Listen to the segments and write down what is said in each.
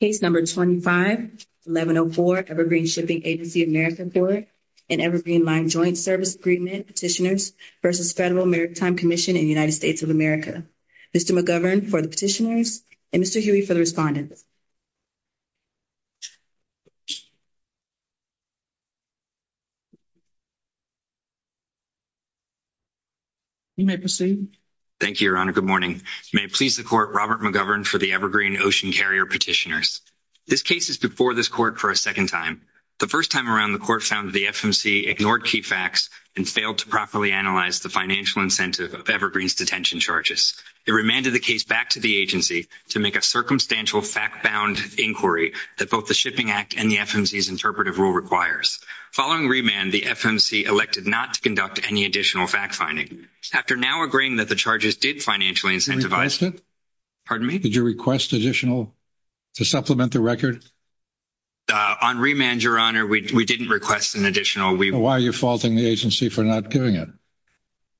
Case No. 25-1104, Evergreen Shipping Agency of America Corp. and Evergreen Line Joint Service Agreement Petitioners v. Federal Maritime Commission in the United States of America. Mr. McGovern for the Petitioners and Mr. Huey for the Respondents. You may proceed. Thank you, Your Honor. Good morning. May it please the Court, Robert McGovern for the Evergreen Ocean Carrier Petitioners. This case is before this Court for a second time. The first time around, the Court found that the FMC ignored key facts and failed to properly analyze the financial incentive of Evergreen's detention charges. It remanded the case back to the agency to make a circumstantial fact-bound inquiry that both the Shipping Act and the FMC's interpretive rule requires. Following remand, the FMC elected not to conduct any additional fact-finding. After now agreeing that the charges did financially incentivize it — Pardon me? Did you request additional — to supplement the record? On remand, Your Honor, we didn't request an additional — Why are you faulting the agency for not doing it?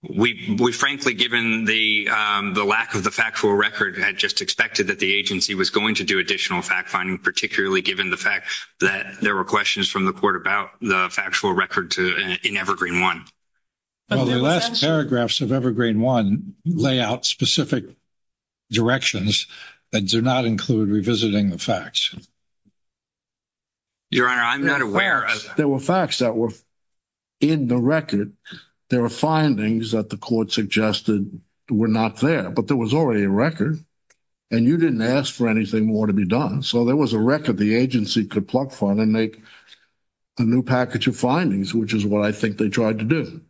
We frankly, given the lack of the factual record, had just expected that the agency was going to do additional fact-finding, particularly given the fact that there were questions from the Court about the factual record in Evergreen 1. Well, the last paragraphs of Evergreen 1 lay out specific directions that do not include revisiting the facts. Your Honor, I'm not aware of — There were facts that were in the record. There were findings that the Court suggested were not there. But there was already a record, and you didn't ask for anything more to be done. So there was a record the agency could pluck from and make a new package of findings, which is what I think they tried to do.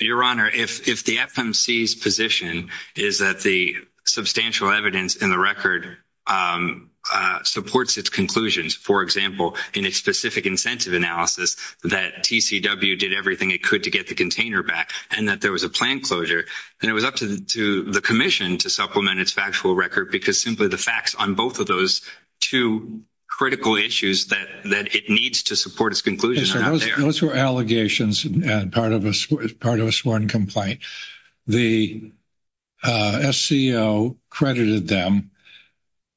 Your Honor, if the FMC's position is that the substantial evidence in the record supports its conclusions — for example, in its specific incentive analysis, that TCW did everything it could to get the container back, and that there was a plan closure — then it was up to the Commission to supplement its factual record, because simply the facts on both of those two critical issues that it needs to support its conclusion are not there. Those were allegations and part of a sworn complaint. The SCO credited them.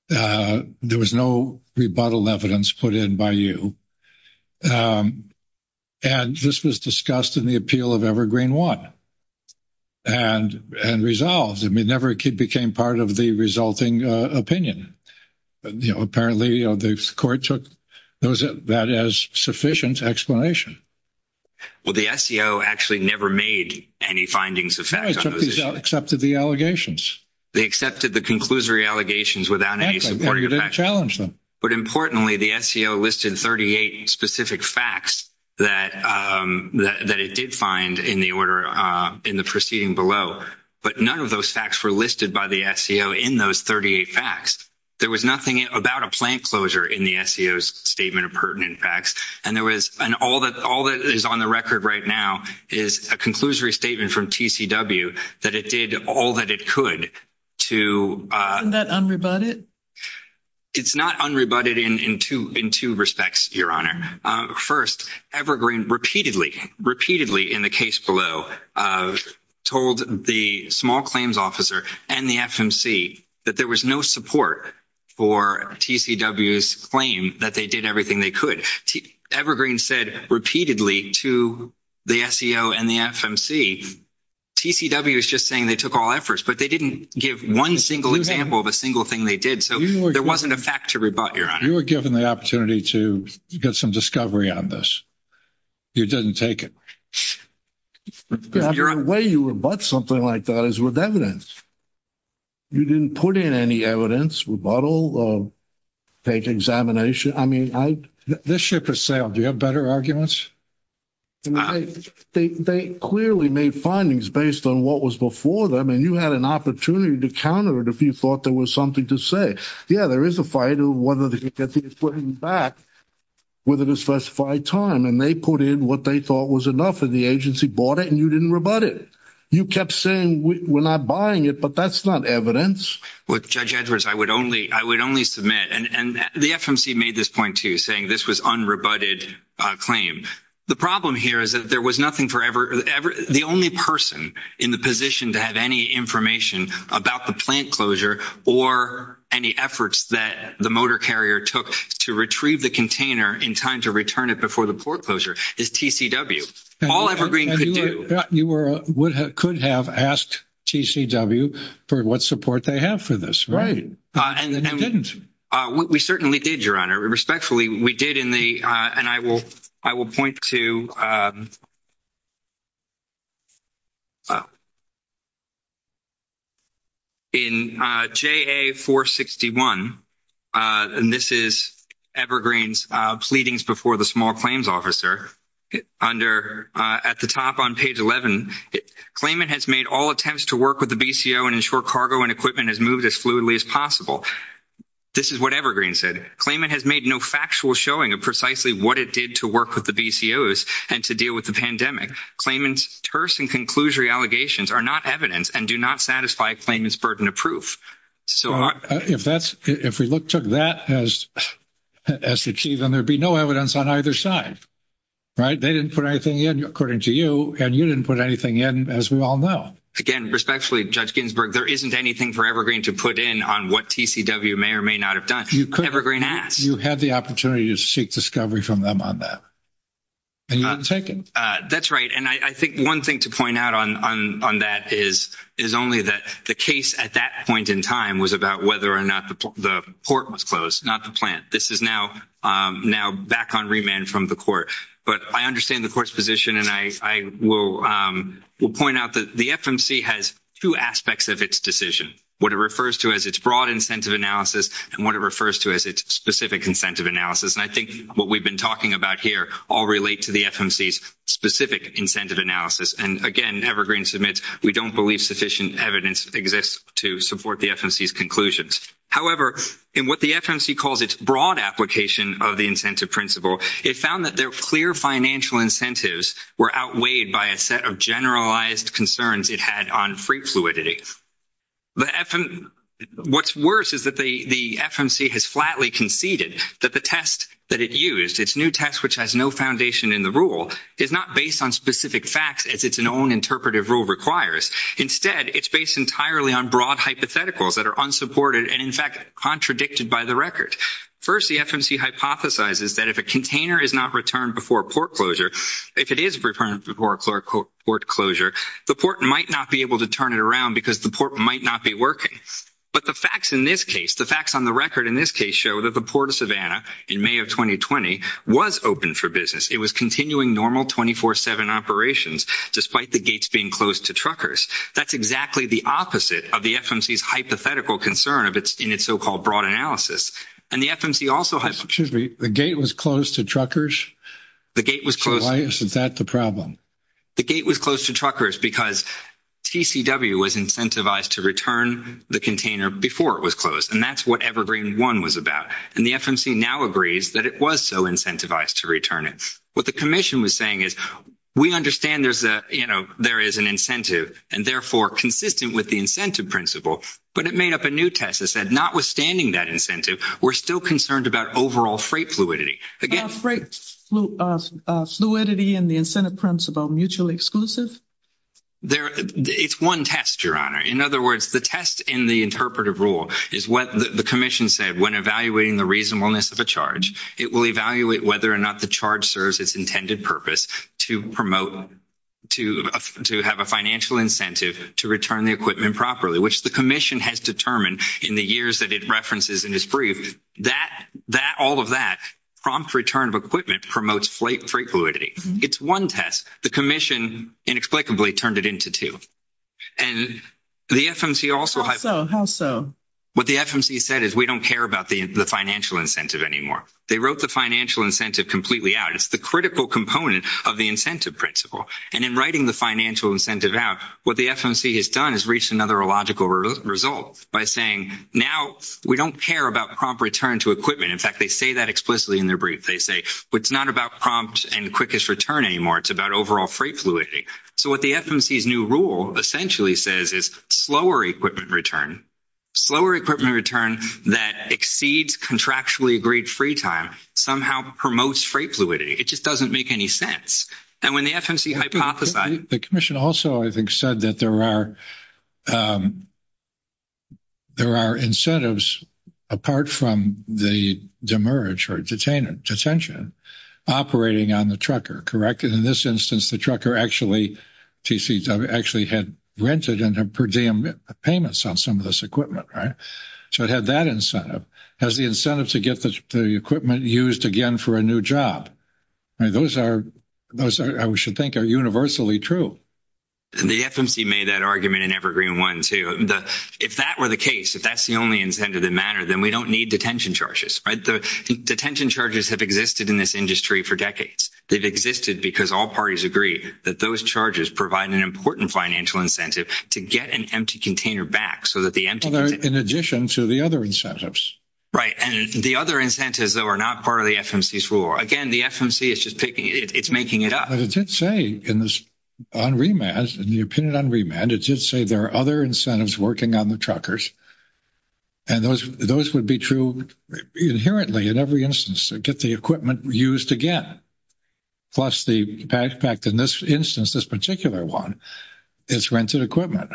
There was no rebuttal evidence put in by you. And this was discussed in the appeal of Evergreen 1 and resolved. Never became part of the resulting opinion. Apparently, the Court took that as sufficient explanation. Well, the SCO actually never made any findings of fact on those issues. No, it accepted the allegations. They accepted the conclusory allegations without any supporting facts. Exactly. They didn't challenge them. But importantly, the SCO listed 38 specific facts that it did find in the proceeding below. But none of those facts were listed by the SCO in those 38 facts. There was nothing about a plan closure in the SCO's statement of pertinent facts. And there was — and all that is on the record right now is a conclusory statement from TCW that it did all that it could to — Isn't that unrebutted? It's not unrebutted in two respects, Your Honor. First, Evergreen repeatedly, repeatedly in the case below, told the small claims officer and the FMC that there was no support for TCW's claim that they did everything they could. Evergreen said repeatedly to the SCO and the FMC, TCW is just saying they took all efforts. But they didn't give one single example of a single thing they did. So there wasn't a fact to rebut, Your Honor. You were given the opportunity to get some discovery on this. You didn't take it. The way you rebut something like that is with evidence. You didn't put in any evidence, rebuttal, fake examination. I mean, I — This ship has sailed. Do you have better arguments? They clearly made findings based on what was before them. And you had an opportunity to counter it if you thought there was something to say. Yeah, there is a fight over whether to get the equipment back within a specified time. And they put in what they thought was enough. And the agency bought it, and you didn't rebut it. You kept saying we're not buying it, but that's not evidence. Well, Judge Edwards, I would only — I would only submit — And the FMC made this point, too, saying this was unrebutted claim. The problem here is that there was nothing for ever — One of the efforts that the motor carrier took to retrieve the container in time to return it before the foreclosure is TCW. All Evergreen could do — You could have asked TCW for what support they have for this. Right. And you didn't. We certainly did, Your Honor. Respectfully, we did in the — and I will point to — In JA461, and this is Evergreen's pleadings before the small claims officer, under — at the top on page 11, claimant has made all attempts to work with the BCO and ensure cargo and equipment has moved as fluidly as possible. This is what Evergreen said. Claimant has made no factual showing of precisely what it did to work with the BCOs and to deal with the pandemic. Claimant's terse and conclusory allegations are not evidence and do not satisfy claimant's burden of proof. So — If that's — if we took that as the key, then there would be no evidence on either side. Right? They didn't put anything in, according to you, and you didn't put anything in, as we all know. Again, respectfully, Judge Ginsburg, there isn't anything for Evergreen to put in on what TCW may or may not have done. Evergreen asked. You had the opportunity to seek discovery from them on that, and you didn't take it. That's right. And I think one thing to point out on that is only that the case at that point in time was about whether or not the port was closed, not the plant. This is now back on remand from the court. But I understand the court's position, and I will point out that the FMC has two aspects of its decision, what it refers to as its broad incentive analysis and what it refers to as its specific incentive analysis. And I think what we've been talking about here all relate to the FMC's specific incentive analysis. And, again, Evergreen submits, we don't believe sufficient evidence exists to support the FMC's conclusions. However, in what the FMC calls its broad application of the incentive principle, it found that their clear financial incentives were outweighed by a set of generalized concerns it had on free fluidity. What's worse is that the FMC has flatly conceded that the test that it used, its new test, which has no foundation in the rule, is not based on specific facts as its own interpretive rule requires. Instead, it's based entirely on broad hypotheticals that are unsupported and, in fact, contradicted by the record. First, the FMC hypothesizes that if a container is not returned before port closure, if it is returned before port closure, the port might not be able to turn it around because the port might not be working. But the facts in this case, the facts on the record in this case show that the port of Savannah in May of 2020 was open for business. It was continuing normal 24-7 operations despite the gates being closed to truckers. That's exactly the opposite of the FMC's hypothetical concern in its so-called broad analysis. Excuse me. The gate was closed to truckers? The gate was closed. Why is that the problem? The gate was closed to truckers because TCW was incentivized to return the container before it was closed, and that's what Evergreen 1 was about. And the FMC now agrees that it was so incentivized to return it. What the commission was saying is we understand there is an incentive and, therefore, consistent with the incentive principle, but it made up a new test that said notwithstanding that incentive, we're still concerned about overall freight fluidity. Freight fluidity and the incentive principle mutually exclusive? It's one test, Your Honor. In other words, the test in the interpretive rule is what the commission said when evaluating the reasonableness of a charge. It will evaluate whether or not the charge serves its intended purpose to promote to have a financial incentive to return the equipment properly, which the commission has determined in the years that it references in its brief. All of that, prompt return of equipment, promotes freight fluidity. It's one test. The commission inexplicably turned it into two. How so? What the FMC said is we don't care about the financial incentive anymore. They wrote the financial incentive completely out. It's the critical component of the incentive principle. And in writing the financial incentive out, what the FMC has done is reached another illogical result by saying now we don't care about prompt return to equipment. In fact, they say that explicitly in their brief. They say it's not about prompt and quickest return anymore. It's about overall freight fluidity. So what the FMC's new rule essentially says is slower equipment return. Slower equipment return that exceeds contractually agreed free time somehow promotes freight fluidity. It just doesn't make any sense. And when the FMC hypothesized. The commission also, I think, said that there are incentives apart from the demerge or detention operating on the trucker, correct? In this instance, the trucker actually had rented and had per diem payments on some of this equipment, right? So it had that incentive. It has the incentive to get the equipment used again for a new job. Those are those I should think are universally true. And the FMC made that argument in Evergreen one, too. If that were the case, if that's the only incentive that matter, then we don't need detention charges. Detention charges have existed in this industry for decades. They've existed because all parties agree that those charges provide an important financial incentive to get an empty container back so that the empty. In addition to the other incentives. Right. And the other incentives, though, are not part of the FMC's rule. Again, the FMC is just picking it. It's making it up. But it did say on remand, in the opinion on remand, it did say there are other incentives working on the truckers. And those would be true inherently in every instance to get the equipment used again. Plus the backpack in this instance, this particular one, is rented equipment.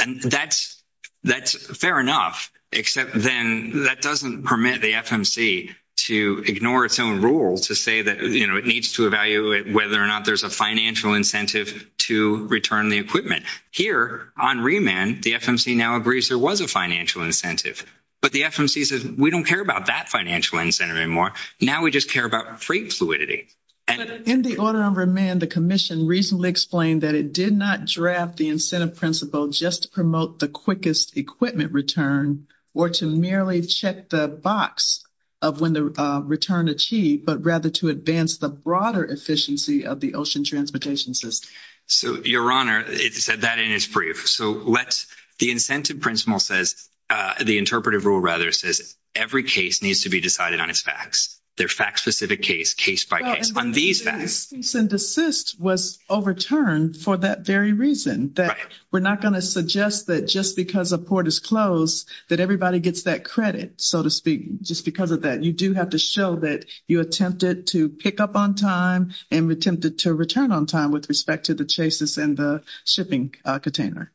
And that's fair enough, except then that doesn't permit the FMC to ignore its own rules to say that, you know, it needs to evaluate whether or not there's a financial incentive to return the equipment. Here on remand, the FMC now agrees there was a financial incentive. But the FMC says we don't care about that financial incentive anymore. Now we just care about freight fluidity. In the order on remand, the commission recently explained that it did not draft the incentive principle just to promote the quickest equipment return or to merely check the box of when the return achieved, but rather to advance the broader efficiency of the ocean transportation system. So, Your Honor, it said that in its brief. So, the incentive principle says, the interpretive rule, rather, says every case needs to be decided on its facts. They're fact-specific case, case by case. On these facts. Cease and desist was overturned for that very reason. That we're not going to suggest that just because a port is closed that everybody gets that credit, so to speak, just because of that. You do have to show that you attempted to pick up on time and attempted to return on time with respect to the chases and the shipping container.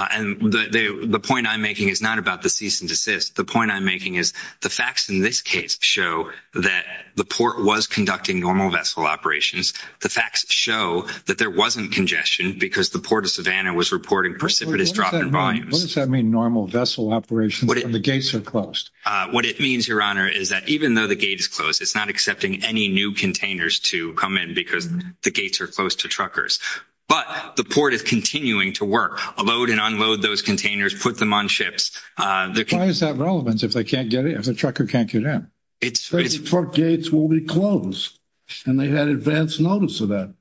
And the point I'm making is not about the cease and desist. The point I'm making is the facts in this case show that the port was conducting normal vessel operations. The facts show that there wasn't congestion because the port of Savannah was reporting precipitous drop in volumes. What does that mean, normal vessel operations when the gates are closed? What it means, Your Honor, is that even though the gate is closed, it's not accepting any new containers to come in because the gates are closed to truckers. But the port is continuing to work, load and unload those containers, put them on ships. Why is that relevant if the trucker can't get in? The port gates will be closed and they had advance notice of that.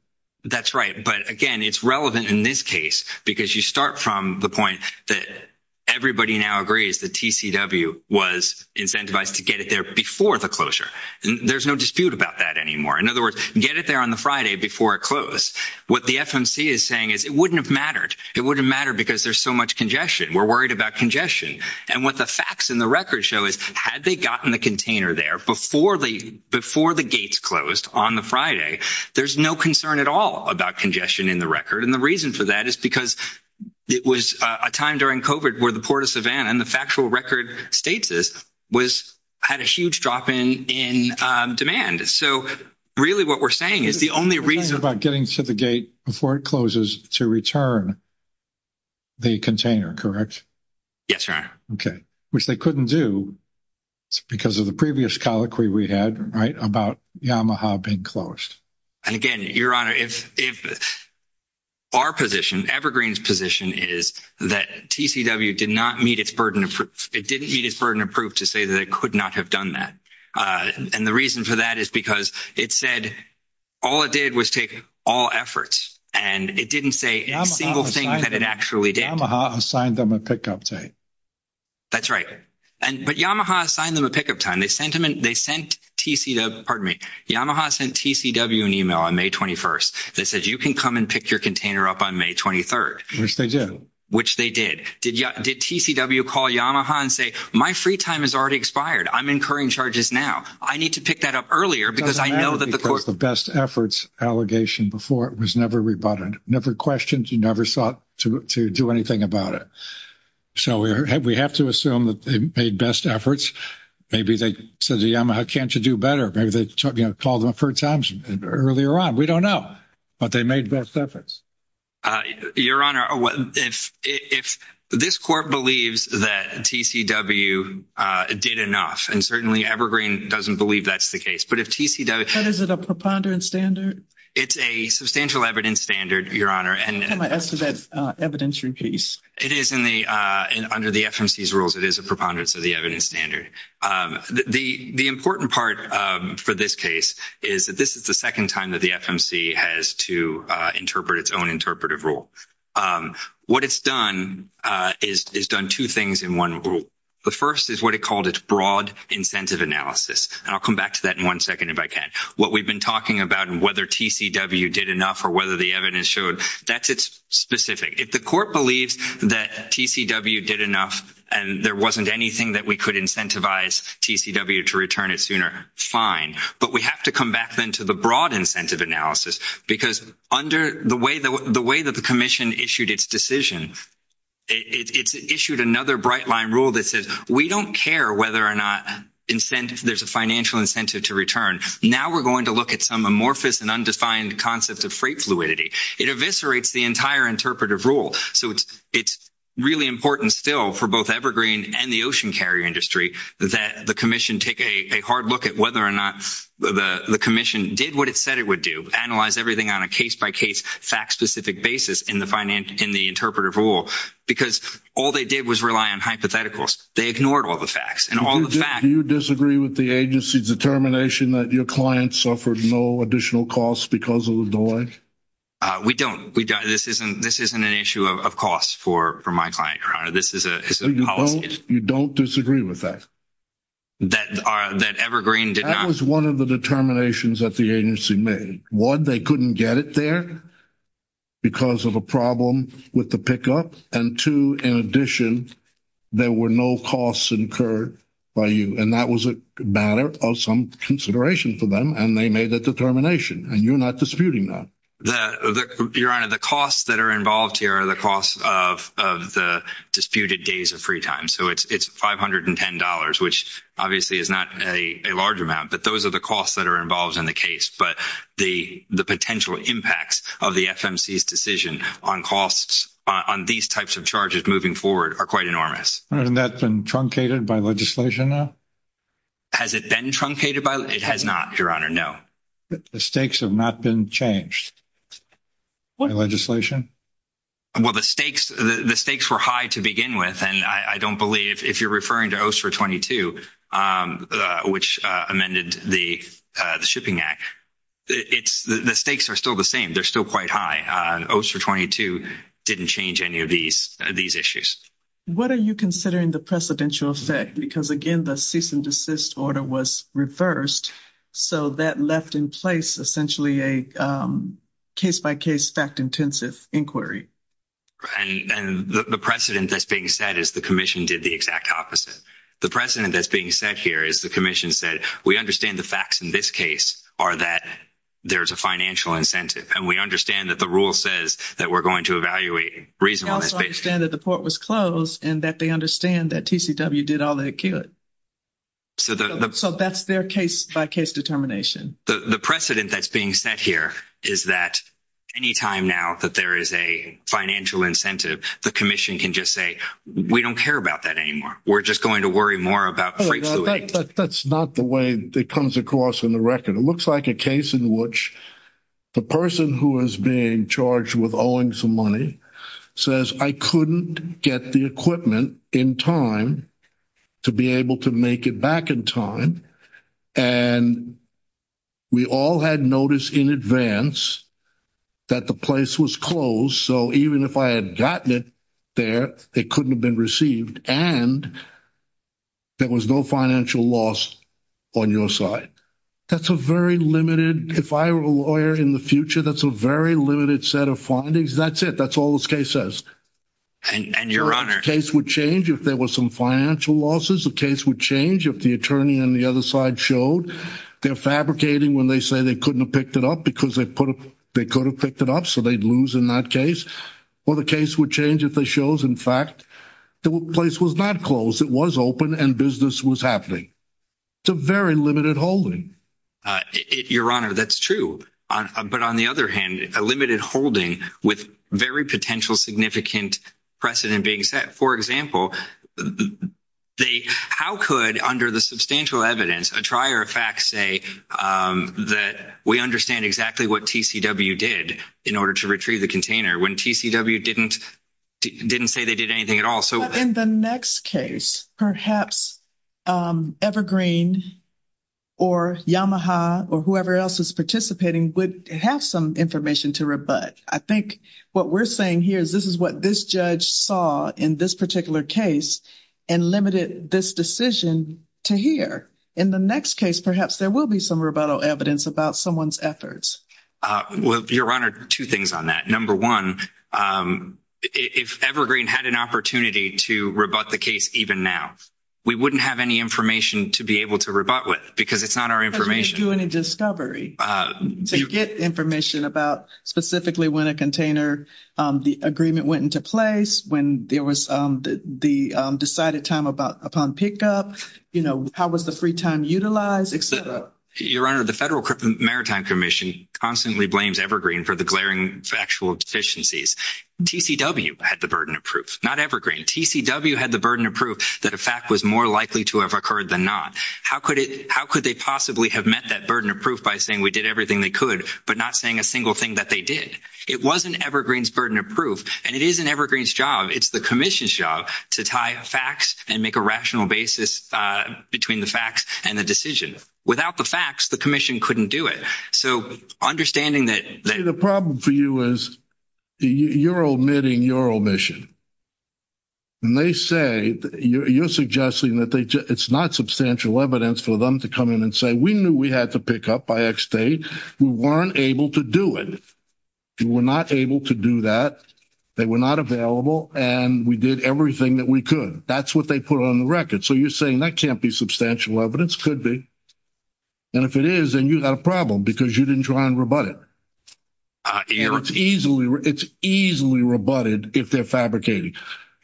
That's right. But, again, it's relevant in this case because you start from the point that everybody now agrees that TCW was incentivized to get it there before the closure. There's no dispute about that anymore. In other words, get it there on the Friday before it closed. What the FMC is saying is it wouldn't have mattered. It wouldn't have mattered because there's so much congestion. We're worried about congestion. And what the facts in the record show is had they gotten the container there before the gates closed on the Friday, there's no concern at all about congestion in the record. And the reason for that is because it was a time during COVID where the port of Savannah and the factual record states this had a huge drop in demand. So, really what we're saying is the only reason. You're saying about getting to the gate before it closes to return the container, correct? Yes, Your Honor. Okay. Which they couldn't do because of the previous colloquy we had, right, about Yamaha being closed. And, again, Your Honor, if our position, Evergreen's position is that TCW did not meet its burden of proof. It didn't meet its burden of proof to say that it could not have done that. And the reason for that is because it said all it did was take all efforts. And it didn't say a single thing that it actually did. Yamaha assigned them a pickup time. That's right. But Yamaha assigned them a pickup time. They sent TCW an email on May 21st that said you can come and pick your container up on May 23rd. Which they did. Which they did. Did TCW call Yamaha and say my free time has already expired? I'm incurring charges now. I need to pick that up earlier because I know that the court. Because the best efforts allegation before it was never rebutted. Never questioned. You never sought to do anything about it. So we have to assume that they made best efforts. Maybe they said to Yamaha can't you do better? Maybe they called them a third time earlier on. We don't know. But they made best efforts. Your Honor, if this court believes that TCW did enough. And certainly Evergreen doesn't believe that's the case. But if TCW. Is it a preponderance standard? It's a substantial evidence standard, Your Honor. As to that evidentiary piece. It is under the FMC's rules. It is a preponderance of the evidence standard. The important part for this case. Is that this is the second time that the FMC has to interpret its own interpretive rule. What it's done is done two things in one rule. The first is what it called its broad incentive analysis. And I'll come back to that in one second if I can. What we've been talking about and whether TCW did enough. Or whether the evidence showed. That's its specific. If the court believes that TCW did enough. And there wasn't anything that we could incentivize TCW to return it sooner. But we have to come back then to the broad incentive analysis. Because under the way that the commission issued its decision. It's issued another bright line rule that says. We don't care whether or not there's a financial incentive to return. Now we're going to look at some amorphous and undefined concept of freight fluidity. It eviscerates the entire interpretive rule. So it's really important still for both Evergreen and the ocean carrier industry. That the commission take a hard look at whether or not the commission did what it said it would do. Analyze everything on a case by case fact specific basis in the interpretive rule. Because all they did was rely on hypotheticals. They ignored all the facts. And all the facts. Do you disagree with the agency's determination that your client suffered no additional costs because of the delay? We don't. This isn't an issue of costs for my client, your honor. This is a policy issue. You don't disagree with that? That Evergreen did not. That was one of the determinations that the agency made. One, they couldn't get it there because of a problem with the pickup. And two, in addition, there were no costs incurred by you. And that was a matter of some consideration for them. And they made that determination. And you're not disputing that. Your honor, the costs that are involved here are the costs of the disputed days of free time. So it's $510, which obviously is not a large amount. But those are the costs that are involved in the case. But the potential impacts of the FMC's decision on costs on these types of charges moving forward are quite enormous. Hasn't that been truncated by legislation now? Has it been truncated? It has not, your honor, no. The stakes have not been changed by legislation? Well, the stakes were high to begin with. And I don't believe, if you're referring to OSER 22, which amended the Shipping Act, the stakes are still the same. They're still quite high. OSER 22 didn't change any of these issues. What are you considering the precedential effect? Because, again, the cease and desist order was reversed. So that left in place essentially a case-by-case, fact-intensive inquiry. And the precedent that's being set is the commission did the exact opposite. The precedent that's being set here is the commission said, we understand the facts in this case are that there's a financial incentive. And we understand that the rule says that we're going to evaluate reasonableness. And we understand that the port was closed and that they understand that TCW did all they could. So that's their case-by-case determination. The precedent that's being set here is that any time now that there is a financial incentive, the commission can just say, we don't care about that anymore. We're just going to worry more about freight fluid. That's not the way it comes across in the record. It looks like a case in which the person who is being charged with owing some money says, I couldn't get the equipment in time to be able to make it back in time. And we all had noticed in advance that the place was closed. So even if I had gotten it there, it couldn't have been received. And there was no financial loss on your side. That's a very limited, if I were a lawyer in the future, that's a very limited set of findings. That's it. That's all this case says. And your Honor. The case would change if there was some financial losses. The case would change if the attorney on the other side showed they're fabricating when they say they couldn't have picked it up because they could have picked it up so they'd lose in that case. Or the case would change if they showed, in fact, the place was not closed. It was open and business was happening. It's a very limited holding. Your Honor, that's true. But on the other hand, a limited holding with very potential significant precedent being set. For example, how could, under the substantial evidence, a trier of facts say that we understand exactly what TCW did in order to retrieve the container when TCW didn't say they did anything at all? But in the next case, perhaps Evergreen or Yamaha or whoever else is participating would have some information to rebut. I think what we're saying here is this is what this judge saw in this particular case and limited this decision to here. In the next case, perhaps there will be some rebuttal evidence about someone's efforts. Well, Your Honor, two things on that. Number one, if Evergreen had an opportunity to rebut the case even now, we wouldn't have any information to be able to rebut with because it's not our information. Because we didn't do any discovery to get information about specifically when a container, the agreement went into place, when there was the decided time upon pickup, how was the free time utilized, et cetera. Your Honor, the Federal Maritime Commission constantly blames Evergreen for the glaring factual deficiencies. TCW had the burden of proof, not Evergreen. TCW had the burden of proof that a fact was more likely to have occurred than not. How could they possibly have met that burden of proof by saying we did everything they could but not saying a single thing that they did? It wasn't Evergreen's burden of proof, and it isn't Evergreen's job. It's the commission's job to tie facts and make a rational basis between the facts and the decision. Without the facts, the commission couldn't do it. So understanding that – The problem for you is you're omitting your omission. And they say – you're suggesting that it's not substantial evidence for them to come in and say we knew we had to pick up by X date. We weren't able to do it. We were not able to do that. They were not available, and we did everything that we could. That's what they put on the record. So you're saying that can't be substantial evidence. It could be. And if it is, then you've got a problem because you didn't try and rebut it. It's easily rebutted if they're fabricating.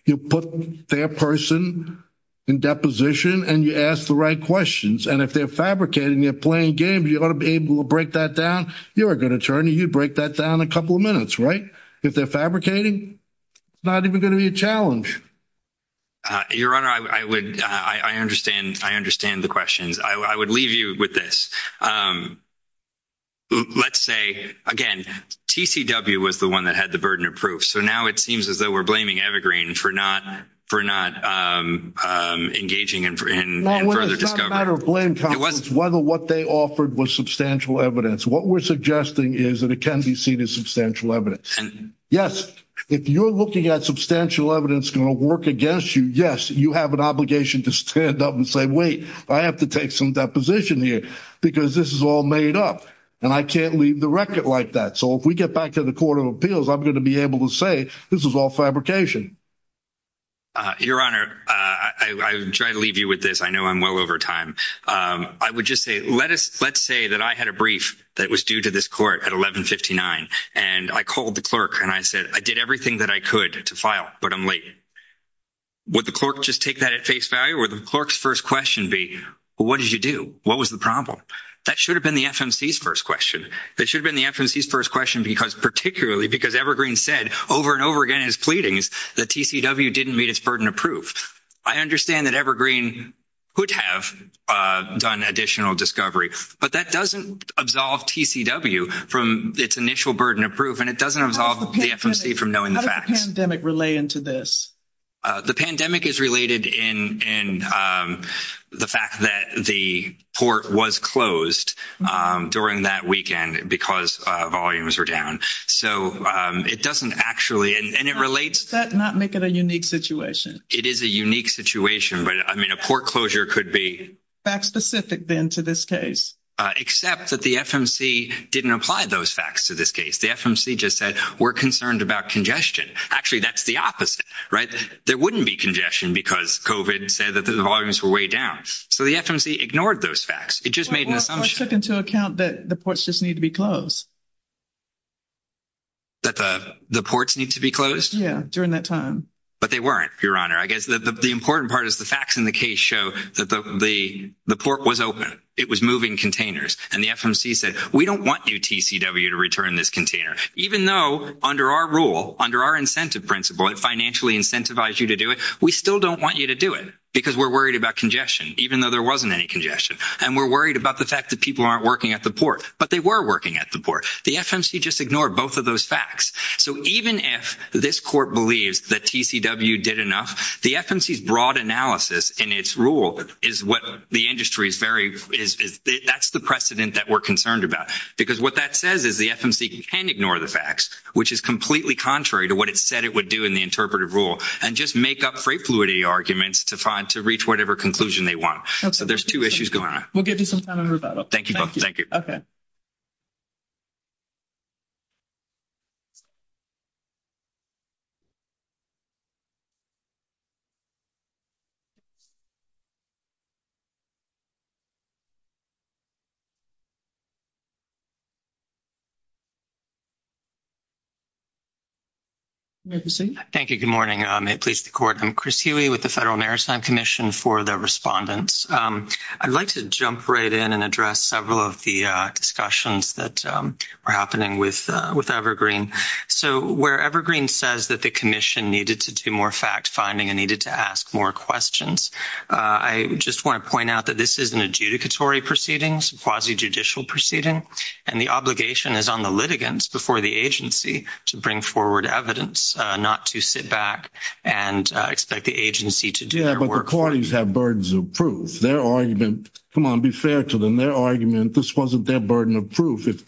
You put their person in deposition, and you ask the right questions. And if they're fabricating, they're playing games, you ought to be able to break that down. You're a good attorney. You'd break that down in a couple of minutes, right? If they're fabricating, it's not even going to be a challenge. Your Honor, I understand the questions. I would leave you with this. Let's say, again, TCW was the one that had the burden of proof. So now it seems as though we're blaming Evergreen for not engaging in further discovery. No, it's not a matter of blame, counsel. It wasn't. It's whether what they offered was substantial evidence. What we're suggesting is that it can be seen as substantial evidence. Yes, if you're looking at substantial evidence going to work against you, yes, you have an obligation to stand up and say, wait, I have to take some deposition here because this is all made up, and I can't leave the record like that. So if we get back to the Court of Appeals, I'm going to be able to say this is all fabrication. Your Honor, I would try to leave you with this. I know I'm well over time. I would just say, let's say that I had a brief that was due to this court at 1159, and I called the clerk and I said, I did everything that I could to file, but I'm late. Would the clerk just take that at face value? Would the clerk's first question be, well, what did you do? What was the problem? That should have been the FMC's first question. That should have been the FMC's first question because particularly because Evergreen said over and over again in his pleadings that TCW didn't meet its burden of proof. I understand that Evergreen could have done additional discovery, but that doesn't absolve TCW from its initial burden of proof, and it doesn't absolve the FMC from knowing the facts. How does the pandemic relate into this? The pandemic is related in the fact that the port was closed during that weekend because volumes were down. So it doesn't actually, and it relates. Does that not make it a unique situation? It is a unique situation, but, I mean, a port closure could be. Fact specific then to this case? Except that the FMC didn't apply those facts to this case. The FMC just said we're concerned about congestion. Actually, that's the opposite, right? There wouldn't be congestion because COVID said that the volumes were way down. So the FMC ignored those facts. It just made an assumption. Or took into account that the ports just need to be closed. That the ports need to be closed? Yeah, during that time. But they weren't, Your Honor. I guess the important part is the facts in the case show that the port was open. It was moving containers. And the FMC said we don't want you, TCW, to return this container. Even though under our rule, under our incentive principle, it financially incentivized you to do it, we still don't want you to do it because we're worried about congestion, even though there wasn't any congestion. And we're worried about the fact that people aren't working at the port. But they were working at the port. The FMC just ignored both of those facts. So even if this court believes that TCW did enough, the FMC's broad analysis in its rule is what the industry is very – that's the precedent that we're concerned about. Because what that says is the FMC can ignore the facts, which is completely contrary to what it said it would do in the interpretive rule, and just make up freight fluidity arguments to reach whatever conclusion they want. So there's two issues going on. We'll give you some time on rebuttal. Thank you both. Thank you. Okay. Thank you. Good morning. I'm Chris Huey with the Federal Maritime Commission for the Respondents. I'd like to jump right in and address several of the discussions that are happening with Evergreen. So where Evergreen says that the commission needed to do more fact-finding and needed to ask more questions, I just want to point out that this is an adjudicatory proceedings, quasi-judicial proceeding, and the obligation is on the litigants before the agency to bring forward evidence, not to sit back and expect the agency to do their work. Yeah, but the parties have burdens of proof. Their argument – come on, be fair to them. This wasn't their argument. This wasn't their burden of proof. If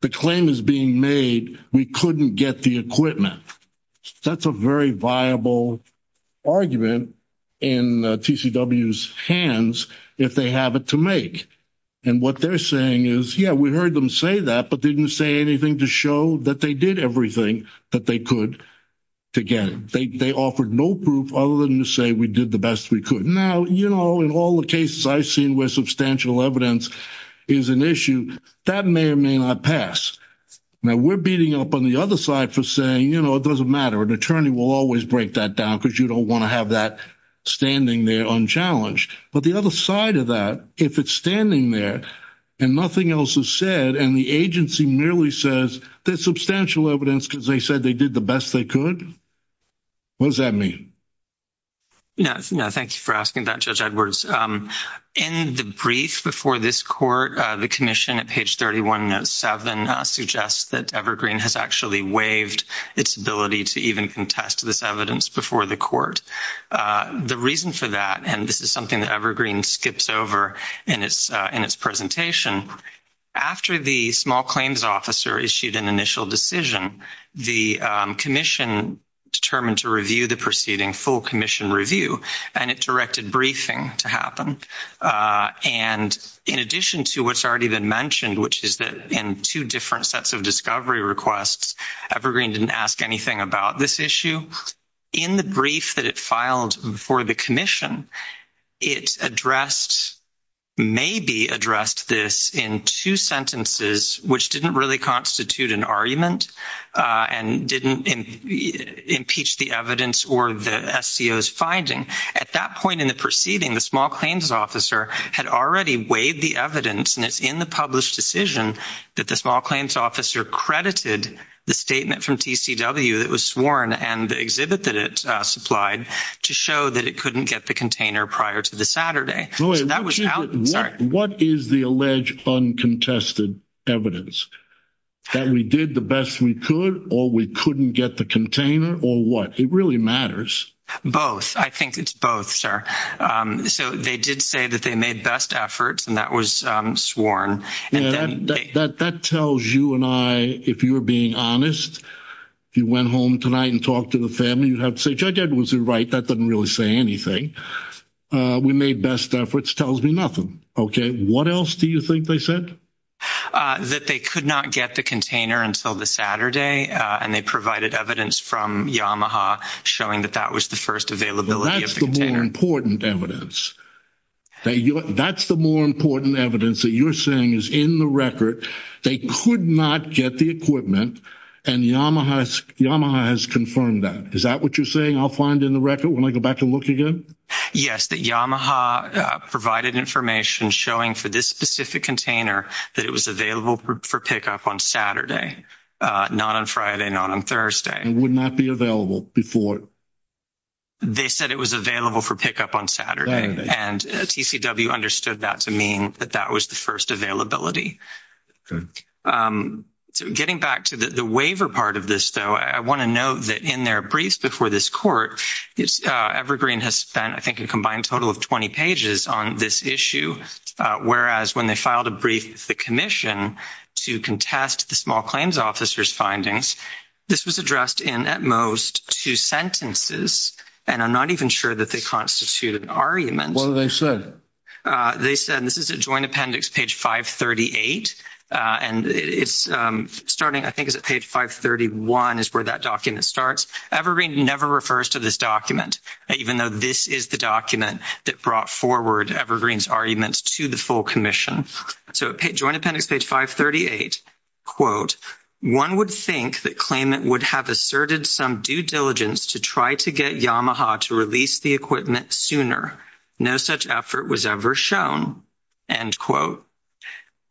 the claim is being made, we couldn't get the equipment. That's a very viable argument in TCW's hands if they have it to make. And what they're saying is, yeah, we heard them say that, but didn't say anything to show that they did everything that they could to get it. They offered no proof other than to say we did the best we could. Now, you know, in all the cases I've seen where substantial evidence is an issue, that may or may not pass. Now, we're beating up on the other side for saying, you know, it doesn't matter. An attorney will always break that down because you don't want to have that standing there unchallenged. But the other side of that, if it's standing there and nothing else is said and the agency merely says there's substantial evidence because they said they did the best they could, what does that mean? No, thank you for asking that, Judge Edwards. In the brief before this court, the commission at page 3107 suggests that Evergreen has actually waived its ability to even contest this evidence before the court. The reason for that, and this is something that Evergreen skips over in its presentation, after the small claims officer issued an initial decision, the commission determined to review the proceeding, full commission review, and it directed briefing to happen. And in addition to what's already been mentioned, which is that in two different sets of discovery requests, Evergreen didn't ask anything about this issue. In the brief that it filed before the commission, it addressed, maybe addressed this in two sentences which didn't really constitute an argument and didn't impeach the evidence or the SCO's finding. At that point in the proceeding, the small claims officer had already waived the evidence and it's in the published decision that the small claims officer credited the statement from TCW that was sworn and the exhibit that it supplied to show that it couldn't get the container prior to the Saturday. What is the alleged uncontested evidence? That we did the best we could or we couldn't get the container or what? It really matters. Both. I think it's both, sir. So they did say that they made best efforts and that was sworn. That tells you and I, if you were being honest, if you went home tonight and talked to the family, you'd have to say, Judge Edwards is right, that doesn't really say anything. We made best efforts tells me nothing. Okay. What else do you think they said? That they could not get the container until the Saturday and they provided evidence from Yamaha showing that that was the first availability. That's the more important evidence. That's the more important evidence that you're saying is in the record. They could not get the equipment and Yamaha has confirmed that. Is that what you're saying I'll find in the record when I go back and look again? Yes, that Yamaha provided information showing for this specific container that it was available for pickup on Saturday, not on Friday, not on Thursday. It would not be available before. They said it was available for pickup on Saturday and TCW understood that to mean that that was the first availability. Okay. Getting back to the waiver part of this, though, I want to note that in their briefs before this court, Evergreen has spent I think a combined total of 20 pages on this issue, whereas when they filed a brief with the commission to contest the small claims officer's findings, this was addressed in at most two sentences, and I'm not even sure that they constitute an argument. What did they say? They said this is a joint appendix, page 538, and it's starting I think is at page 531 is where that document starts. Evergreen never refers to this document, even though this is the document that brought forward Evergreen's arguments to the full commission. So joint appendix, page 538, quote, one would think that claimant would have asserted some due diligence to try to get Yamaha to release the equipment sooner. No such effort was ever shown, end quote.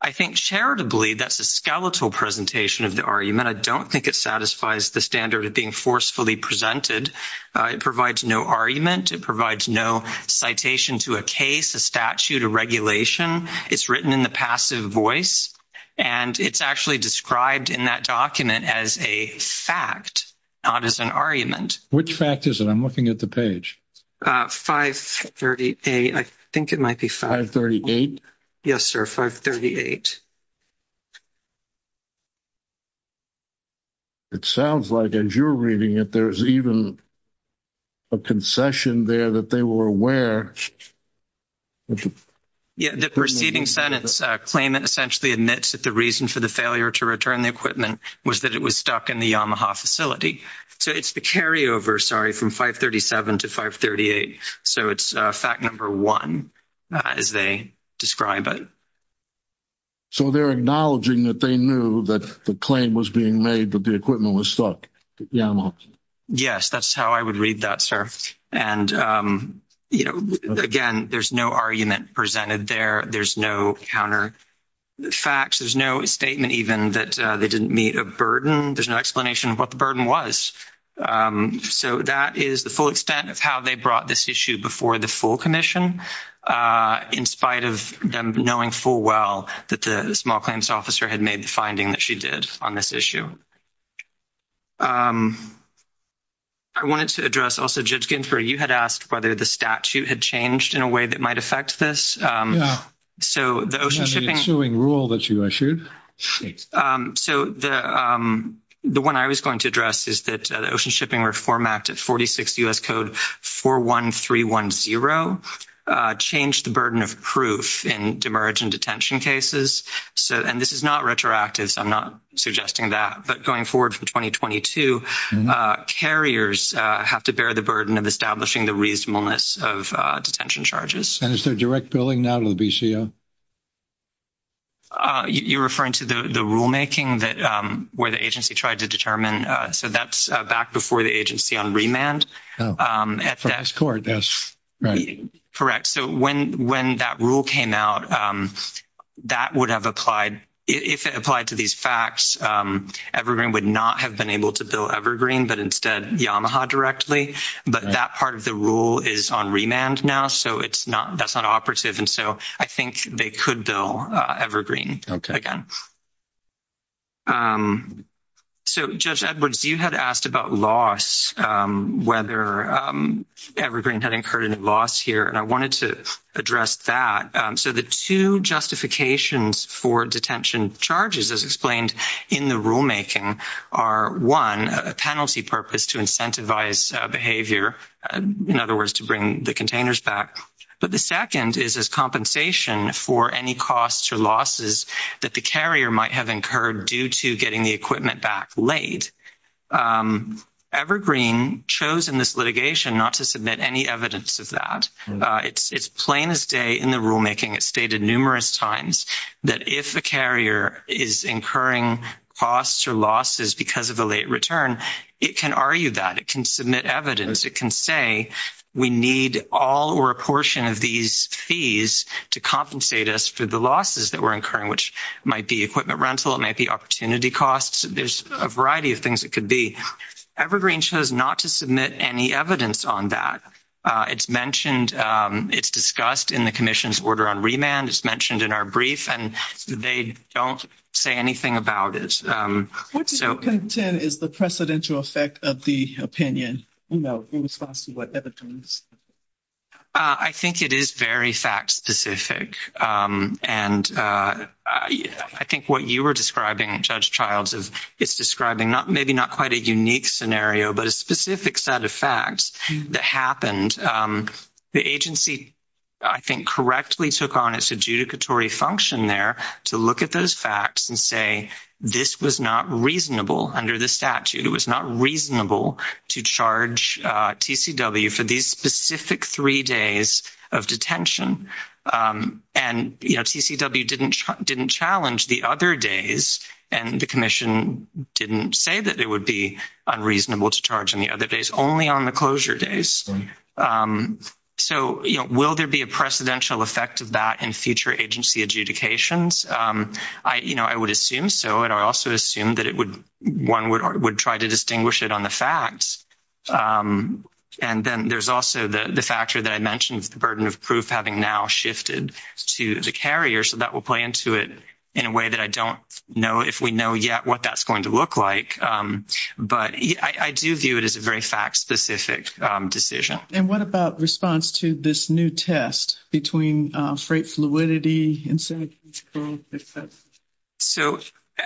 I think charitably that's a skeletal presentation of the argument. I don't think it satisfies the standard of being forcefully presented. It provides no argument. It provides no citation to a case, a statute, a regulation. It's written in the passive voice, and it's actually described in that document as a fact, not as an argument. Which fact is it? I'm looking at the page. 538. I think it might be 538. Yes, sir, 538. It sounds like as you're reading it, there's even a concession there that they were aware. Yeah, the preceding sentence, claimant essentially admits that the reason for the failure to return the equipment was that it was stuck in the Yamaha facility. So it's the carryover, sorry, from 537 to 538. So it's fact number one as they describe it. So they're acknowledging that they knew that the claim was being made that the equipment was stuck at Yamaha. Yes, that's how I would read that, sir. And, you know, again, there's no argument presented there. There's no counter facts. There's no statement even that they didn't meet a burden. There's no explanation of what the burden was. So that is the full extent of how they brought this issue before the full commission, in spite of them knowing full well that the small claims officer had made the finding that she did on this issue. I wanted to address also, Judge Ginsburg, you had asked whether the statute had changed in a way that might affect this. Yeah. So the ocean shipping rule that you issued. So the one I was going to address is that the Ocean Shipping Reform Act of 46 U.S. Code 41310 changed the burden of proof in demergent detention cases. And this is not retroactive, so I'm not suggesting that. But going forward for 2022, carriers have to bear the burden of establishing the reasonableness of detention charges. And is there direct billing now to the BCO? You're referring to the rulemaking where the agency tried to determine. So that's back before the agency on remand. From this court, yes. Correct. So when that rule came out, that would have applied. If it applied to these facts, Evergreen would not have been able to bill Evergreen, but instead Yamaha directly. But that part of the rule is on remand now, so that's not operative. And so I think they could bill Evergreen again. So, Judge Edwards, you had asked about loss, whether Evergreen had incurred a loss here, and I wanted to address that. So the two justifications for detention charges, as explained in the rulemaking, are, one, a penalty purpose to incentivize behavior, in other words, to bring the containers back. But the second is as compensation for any costs or losses that the carrier might have incurred due to getting the equipment back late. Evergreen chose in this litigation not to submit any evidence of that. It's plain as day in the rulemaking. It's stated numerous times that if a carrier is incurring costs or losses because of a late return, it can argue that. It can submit evidence. It can say we need all or a portion of these fees to compensate us for the losses that we're incurring, which might be equipment rental. It might be opportunity costs. There's a variety of things it could be. Evergreen chose not to submit any evidence on that. It's discussed in the commission's order on remand. It's mentioned in our brief, and they don't say anything about it. What do you contend is the precedential effect of the opinion in response to what Evergreen said? I think it is very fact-specific. And I think what you were describing, Judge Childs, is describing maybe not quite a unique scenario, but a specific set of facts that happened. The agency, I think, correctly took on its adjudicatory function there to look at those facts and say this was not reasonable under the statute. It was not reasonable to charge TCW for these specific three days of detention. And, you know, TCW didn't challenge the other days, and the commission didn't say that it would be unreasonable to charge on the other days, only on the closure days. So, you know, will there be a precedential effect of that in future agency adjudications? You know, I would assume so, and I also assume that one would try to distinguish it on the facts. And then there's also the factor that I mentioned, the burden of proof having now shifted to the carrier, so that will play into it in a way that I don't know if we know yet what that's going to look like. But I do view it as a very fact-specific decision. And what about response to this new test between freight fluidity and... So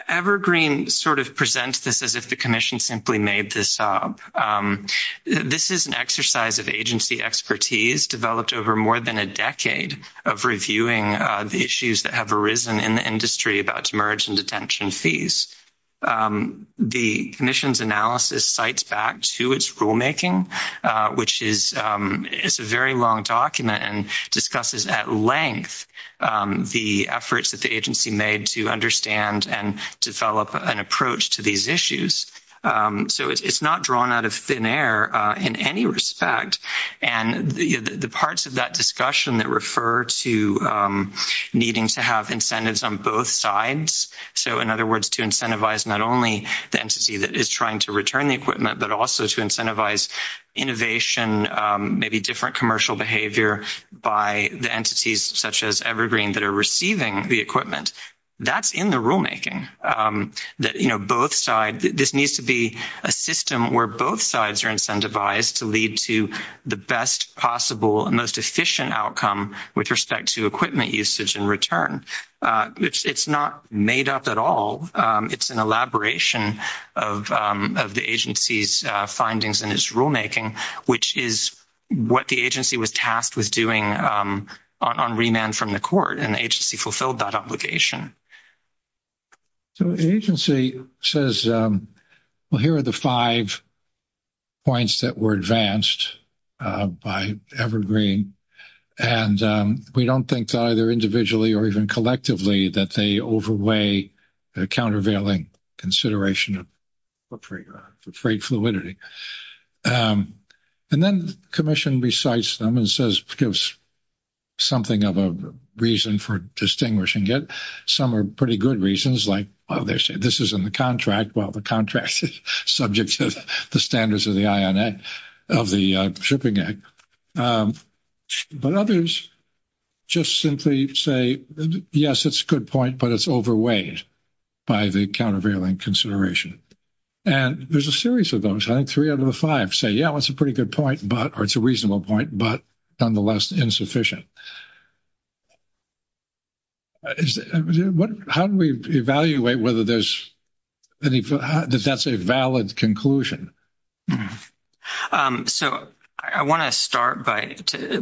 Evergreen sort of presents this as if the commission simply made this up. This is an exercise of agency expertise developed over more than a decade of reviewing the issues that have arisen in the industry about demerge and detention fees. The commission's analysis cites back to its rulemaking, which is a very long document, and discusses at length the efforts that the agency made to understand and develop an approach to these issues. So it's not drawn out of thin air in any respect. And the parts of that discussion that refer to needing to have incentives on both sides, so in other words, to incentivize not only the entity that is trying to return the equipment, but also to incentivize innovation, maybe different commercial behavior by the entities such as Evergreen that are receiving the equipment, that's in the rulemaking. This needs to be a system where both sides are incentivized to lead to the best possible and most efficient outcome with respect to equipment usage and return. It's not made up at all. It's an elaboration of the agency's findings in its rulemaking, which is what the agency was tasked with doing on remand from the court, and the agency fulfilled that obligation. So the agency says, well, here are the five points that were advanced by Evergreen. And we don't think either individually or even collectively that they overweigh the countervailing consideration of freight fluidity. And then the commission recites them and gives something of a reason for distinguishing it. Some are pretty good reasons, like, oh, this is in the contract. Well, the contract is subject to the standards of the shipping act. But others just simply say, yes, it's a good point, but it's overweighed by the countervailing consideration. And there's a series of those. I think three out of the five say, yeah, it's a pretty good point, or it's a reasonable point, but nonetheless insufficient. How do we evaluate whether that's a valid conclusion? So I want to start by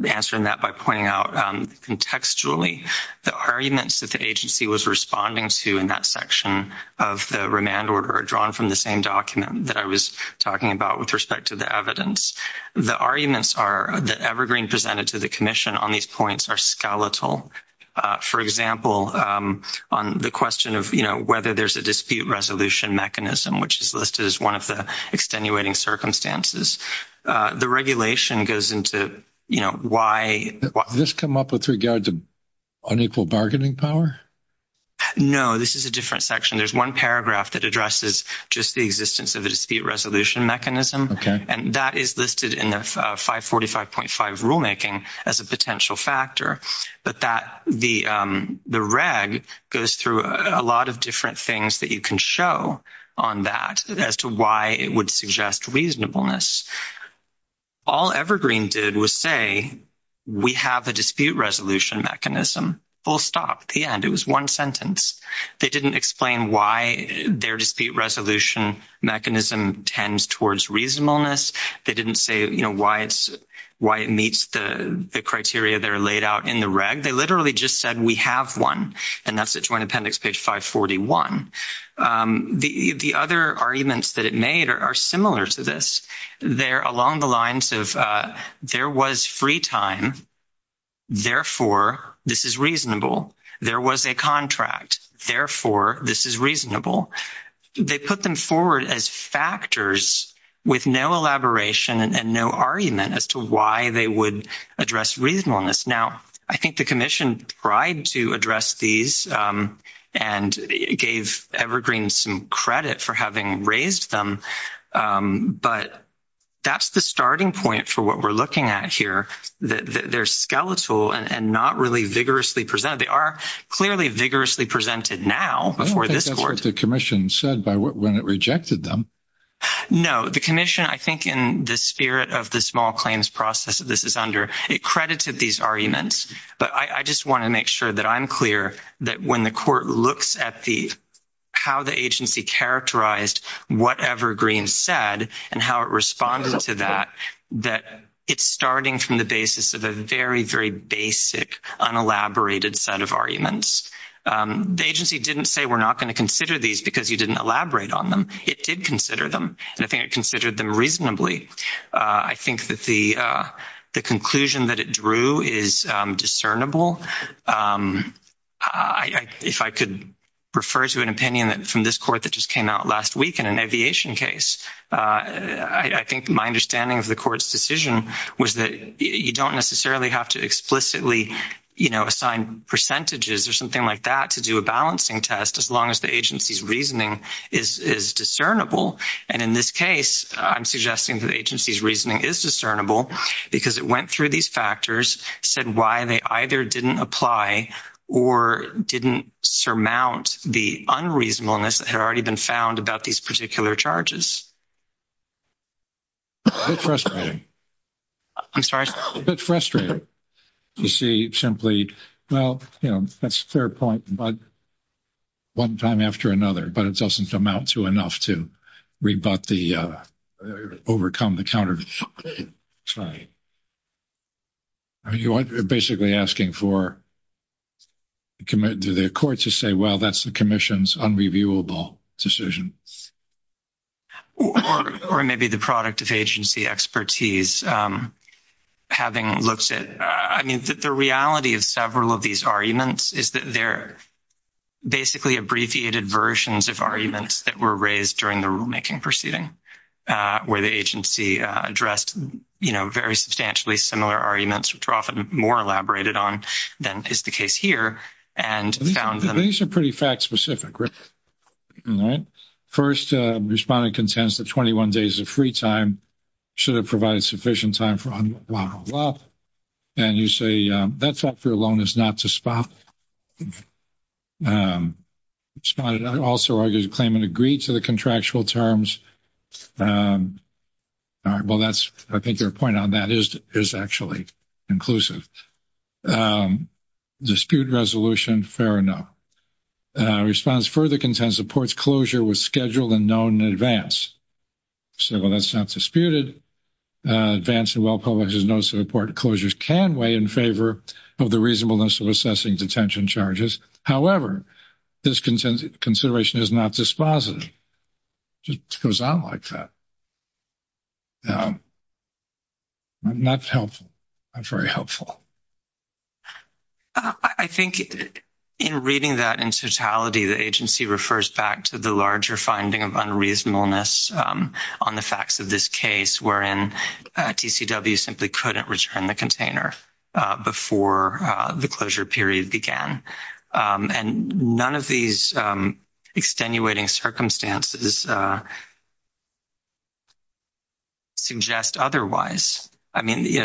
answering that by pointing out, contextually, the arguments that the agency was responding to in that section of the remand order are drawn from the same document that I was talking about with respect to the evidence. The arguments that Evergreen presented to the commission on these points are skeletal. For example, on the question of whether there's a dispute resolution mechanism, which is listed as one of the extenuating circumstances, the regulation goes into, you know, why. Did this come up with regard to unequal bargaining power? No, this is a different section. There's one paragraph that addresses just the existence of a dispute resolution mechanism. Okay. And that is listed in the 545.5 rulemaking as a potential factor. But the reg goes through a lot of different things that you can show on that as to why it would suggest reasonableness. All Evergreen did was say, we have a dispute resolution mechanism. Full stop at the end. It was one sentence. They didn't explain why their dispute resolution mechanism tends towards reasonableness. They didn't say, you know, why it meets the criteria that are laid out in the reg. They literally just said, we have one. And that's at Joint Appendix page 541. The other arguments that it made are similar to this. They're along the lines of, there was free time. Therefore, this is reasonable. There was a contract. Therefore, this is reasonable. They put them forward as factors with no elaboration and no argument as to why they would address reasonableness. Now, I think the commission tried to address these and gave Evergreen some credit for having raised them. But that's the starting point for what we're looking at here. They're skeletal and not really vigorously presented. They are clearly vigorously presented now before this court. I don't think that's what the commission said when it rejected them. No. The commission, I think, in the spirit of the small claims process that this is under, it credited these arguments. But I just want to make sure that I'm clear that when the court looks at how the agency characterized whatever Green said and how it responded to that, that it's starting from the basis of a very, very basic, unelaborated set of arguments. The agency didn't say we're not going to consider these because you didn't elaborate on them. It did consider them, and I think it considered them reasonably. I think that the conclusion that it drew is discernible. If I could refer to an opinion from this court that just came out last week in an aviation case, I think my understanding of the court's decision was that you don't necessarily have to explicitly assign percentages or something like that to do a balancing test as long as the agency's reasoning is discernible. And in this case, I'm suggesting that the agency's reasoning is discernible because it went through these factors, said why they either didn't apply or didn't surmount the unreasonableness that had already been found about these particular charges. A bit frustrating. I'm sorry? A bit frustrating. You see, simply, well, you know, that's a fair point, but one time after another, but it doesn't amount to enough to rebut the overcome the counter. You are basically asking for the court to say, well, that's the commission's unreviewable decision. Or maybe the product of agency expertise having looks at, I mean, the reality of several of these arguments is that they're basically abbreviated versions of arguments that were raised during the rulemaking proceeding where the agency addressed, you know, very substantially similar arguments, which are often more elaborated on than is the case here. These are pretty fact-specific. All right. First, respondent contends that 21 days of free time should have provided sufficient time for unlawful up. And you say that's up for a loan is not to spot. Respondent also argues the claimant agreed to the contractual terms. All right. Well, that's, I think your point on that is actually inclusive. Dispute resolution. Fair enough. Respondent further contends the court's closure was scheduled and known in advance. So, well, that's not disputed. Advanced and well-published is no support. Closures can weigh in favor of the reasonableness of assessing detention charges. However, this consideration is not dispositive. It just goes on like that. Not helpful. Not very helpful. I think in reading that in totality, the agency refers back to the larger finding of unreasonableness on the facts of this case, wherein TCW simply couldn't return the container before the closure period began. And none of these extenuating circumstances suggest otherwise.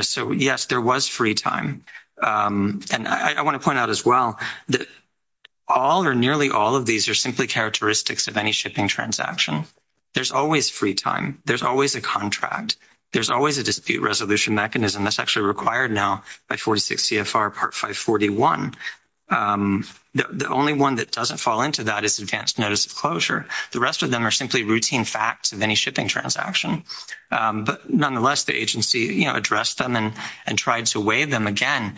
So, yes, there was free time. And I want to point out as well that all or nearly all of these are simply characteristics of any shipping transaction. There's always free time. There's always a contract. There's always a dispute resolution mechanism. That's actually required now by 46 CFR Part 541. The only one that doesn't fall into that is advanced notice of closure. The rest of them are simply routine facts of any shipping transaction. But, nonetheless, the agency addressed them and tried to weigh them again.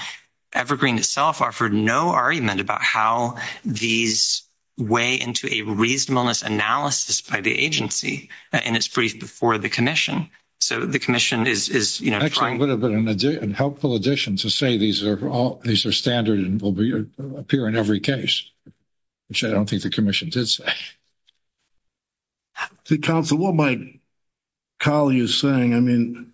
Evergreen itself offered no argument about how these weigh into a reasonableness analysis by the agency. And it's briefed before the commission. So, the commission is trying. Actually, it would have been a helpful addition to say these are standard and will appear in every case, which I don't think the commission did say. See, counsel, what my colleague is saying, I mean,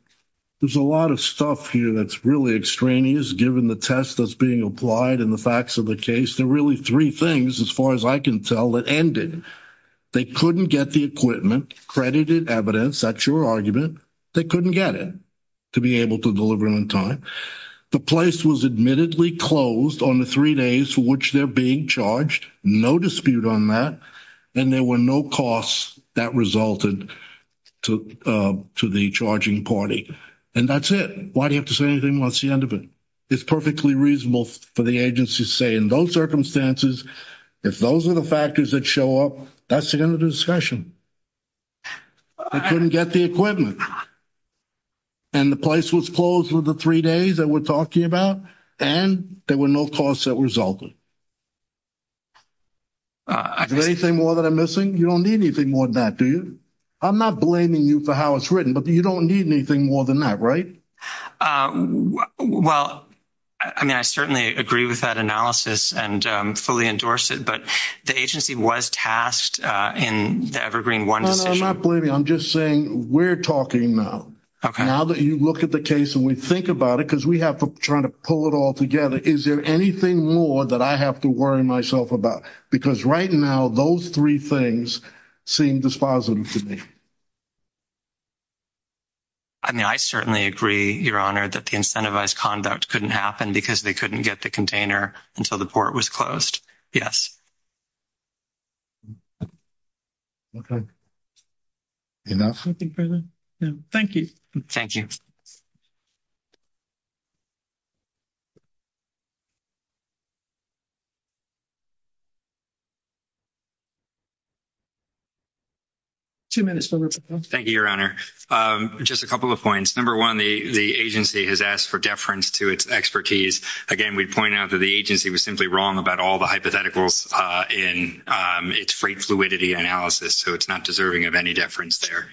there's a lot of stuff here that's really extraneous, given the test that's being applied and the facts of the case. There are really three things, as far as I can tell, that ended. They couldn't get the equipment, credited evidence. That's your argument. They couldn't get it to be able to deliver it on time. The place was admittedly closed on the three days for which they're being charged. No dispute on that. And there were no costs that resulted to the charging party. And that's it. Why do you have to say anything? What's the end of it? It's perfectly reasonable for the agency to say, in those circumstances, if those are the factors that show up, that's the end of the discussion. They couldn't get the equipment. And the place was closed for the three days that we're talking about, and there were no costs that resulted. Is there anything more that I'm missing? You don't need anything more than that, do you? I'm not blaming you for how it's written, but you don't need anything more than that, right? Well, I mean, I certainly agree with that analysis and fully endorse it, but the agency was tasked in the Evergreen one decision. I'm not blaming you. I'm just saying we're talking now. Okay. Now that you look at the case and we think about it, because we have to try to pull it all together. Is there anything more that I have to worry myself about? Because right now, those three things seem dispositive to me. I mean, I certainly agree, Your Honor, that the incentivized conduct couldn't happen because they couldn't get the container until the port was closed. Yes. Okay. Enough? No. Thank you. Thank you. Two minutes. Thank you, Your Honor. Just a couple of points. Number one, the agency has asked for deference to its expertise. Again, we'd point out that the agency was simply wrong about all the hypotheticals in its freight fluidity analysis, so it's not deserving of any deference there.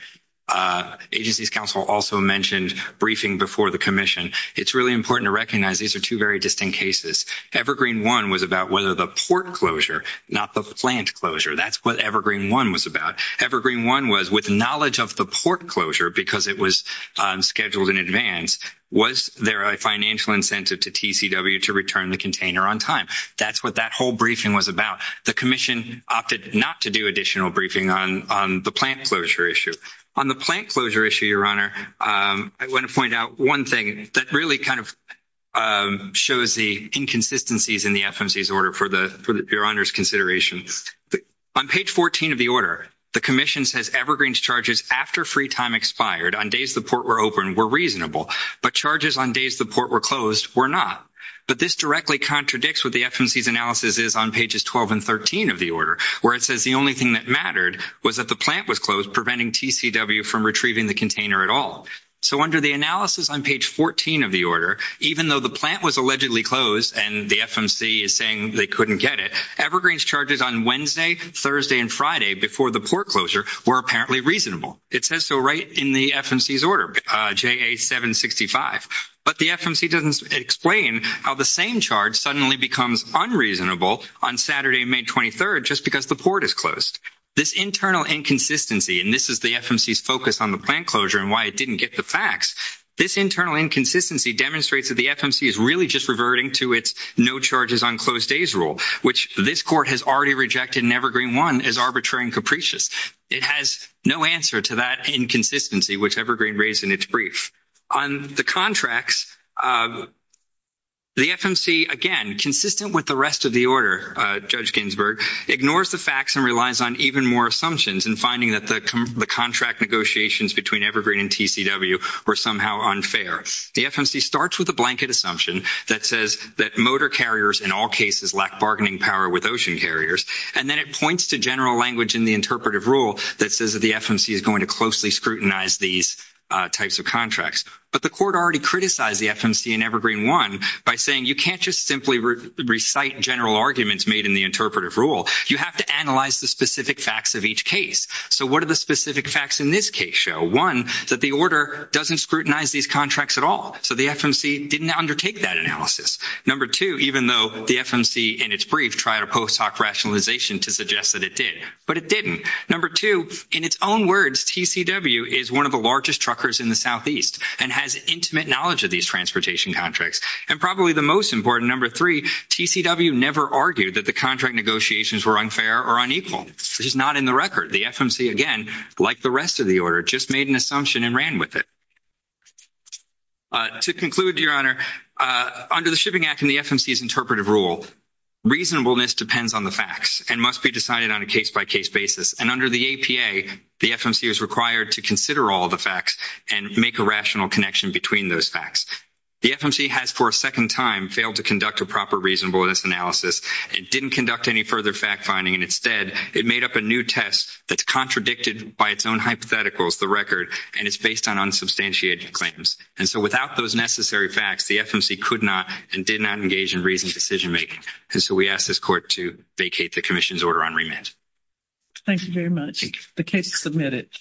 Agency's counsel also mentioned briefing before the commission. It's really important to recognize these are two very distinct cases. Evergreen one was about whether the port closure, not the plant closure. That's what Evergreen one was about. Evergreen one was with knowledge of the port closure because it was scheduled in advance. Was there a financial incentive to TCW to return the container on time? That's what that whole briefing was about. The commission opted not to do additional briefing on the plant closure issue. On the plant closure issue, Your Honor, I want to point out one thing that really kind of shows the inconsistencies in the FMC's order for Your Honor's consideration. On page 14 of the order, the commission says Evergreen's charges after free time expired on days the port were open were reasonable, but charges on days the port were closed were not. But this directly contradicts what the FMC's analysis is on pages 12 and 13 of the order, where it says the only thing that mattered was that the plant was closed, preventing TCW from retrieving the container at all. So under the analysis on page 14 of the order, even though the plant was allegedly closed and the FMC is saying they couldn't get it, Evergreen's charges on Wednesday, Thursday, and Friday before the port closure were apparently reasonable. It says so right in the FMC's order, JA 765. But the FMC doesn't explain how the same charge suddenly becomes unreasonable on Saturday, May 23, just because the port is closed. This internal inconsistency, and this is the FMC's focus on the plant closure and why it didn't get the facts. This internal inconsistency demonstrates that the FMC is really just reverting to its no charges on closed days rule, which this court has already rejected in Evergreen 1 as arbitrary and capricious. It has no answer to that inconsistency, which Evergreen raised in its brief. On the contracts, the FMC, again, consistent with the rest of the order, Judge Ginsburg, ignores the facts and relies on even more assumptions in finding that the contract negotiations between Evergreen and TCW were somehow unfair. The FMC starts with a blanket assumption that says that motor carriers in all cases lack bargaining power with ocean carriers. And then it points to general language in the interpretive rule that says that the FMC is going to closely scrutinize these types of contracts. But the court already criticized the FMC in Evergreen 1 by saying you can't just simply recite general arguments made in the interpretive rule. You have to analyze the specific facts of each case. So what are the specific facts in this case show? One, that the order doesn't scrutinize these contracts at all. So the FMC didn't undertake that analysis. Number two, even though the FMC in its brief tried a post hoc rationalization to suggest that it did, but it didn't. Number two, in its own words, TCW is one of the largest truckers in the southeast and has intimate knowledge of these transportation contracts. And probably the most important, number three, TCW never argued that the contract negotiations were unfair or unequal. This is not in the record. The FMC, again, like the rest of the order, just made an assumption and ran with it. To conclude, Your Honor, under the Shipping Act and the FMC's interpretive rule, reasonableness depends on the facts and must be decided on a case-by-case basis. And under the APA, the FMC is required to consider all the facts and make a rational connection between those facts. The FMC has for a second time failed to conduct a proper reasonableness analysis and didn't conduct any further fact finding. And instead, it made up a new test that's contradicted by its own hypotheticals, the record, and it's based on unsubstantiated claims. And so without those necessary facts, the FMC could not and did not engage in reasoned decision making. And so we ask this Court to vacate the commission's order on remit. Thank you very much. Thank you. The case is submitted.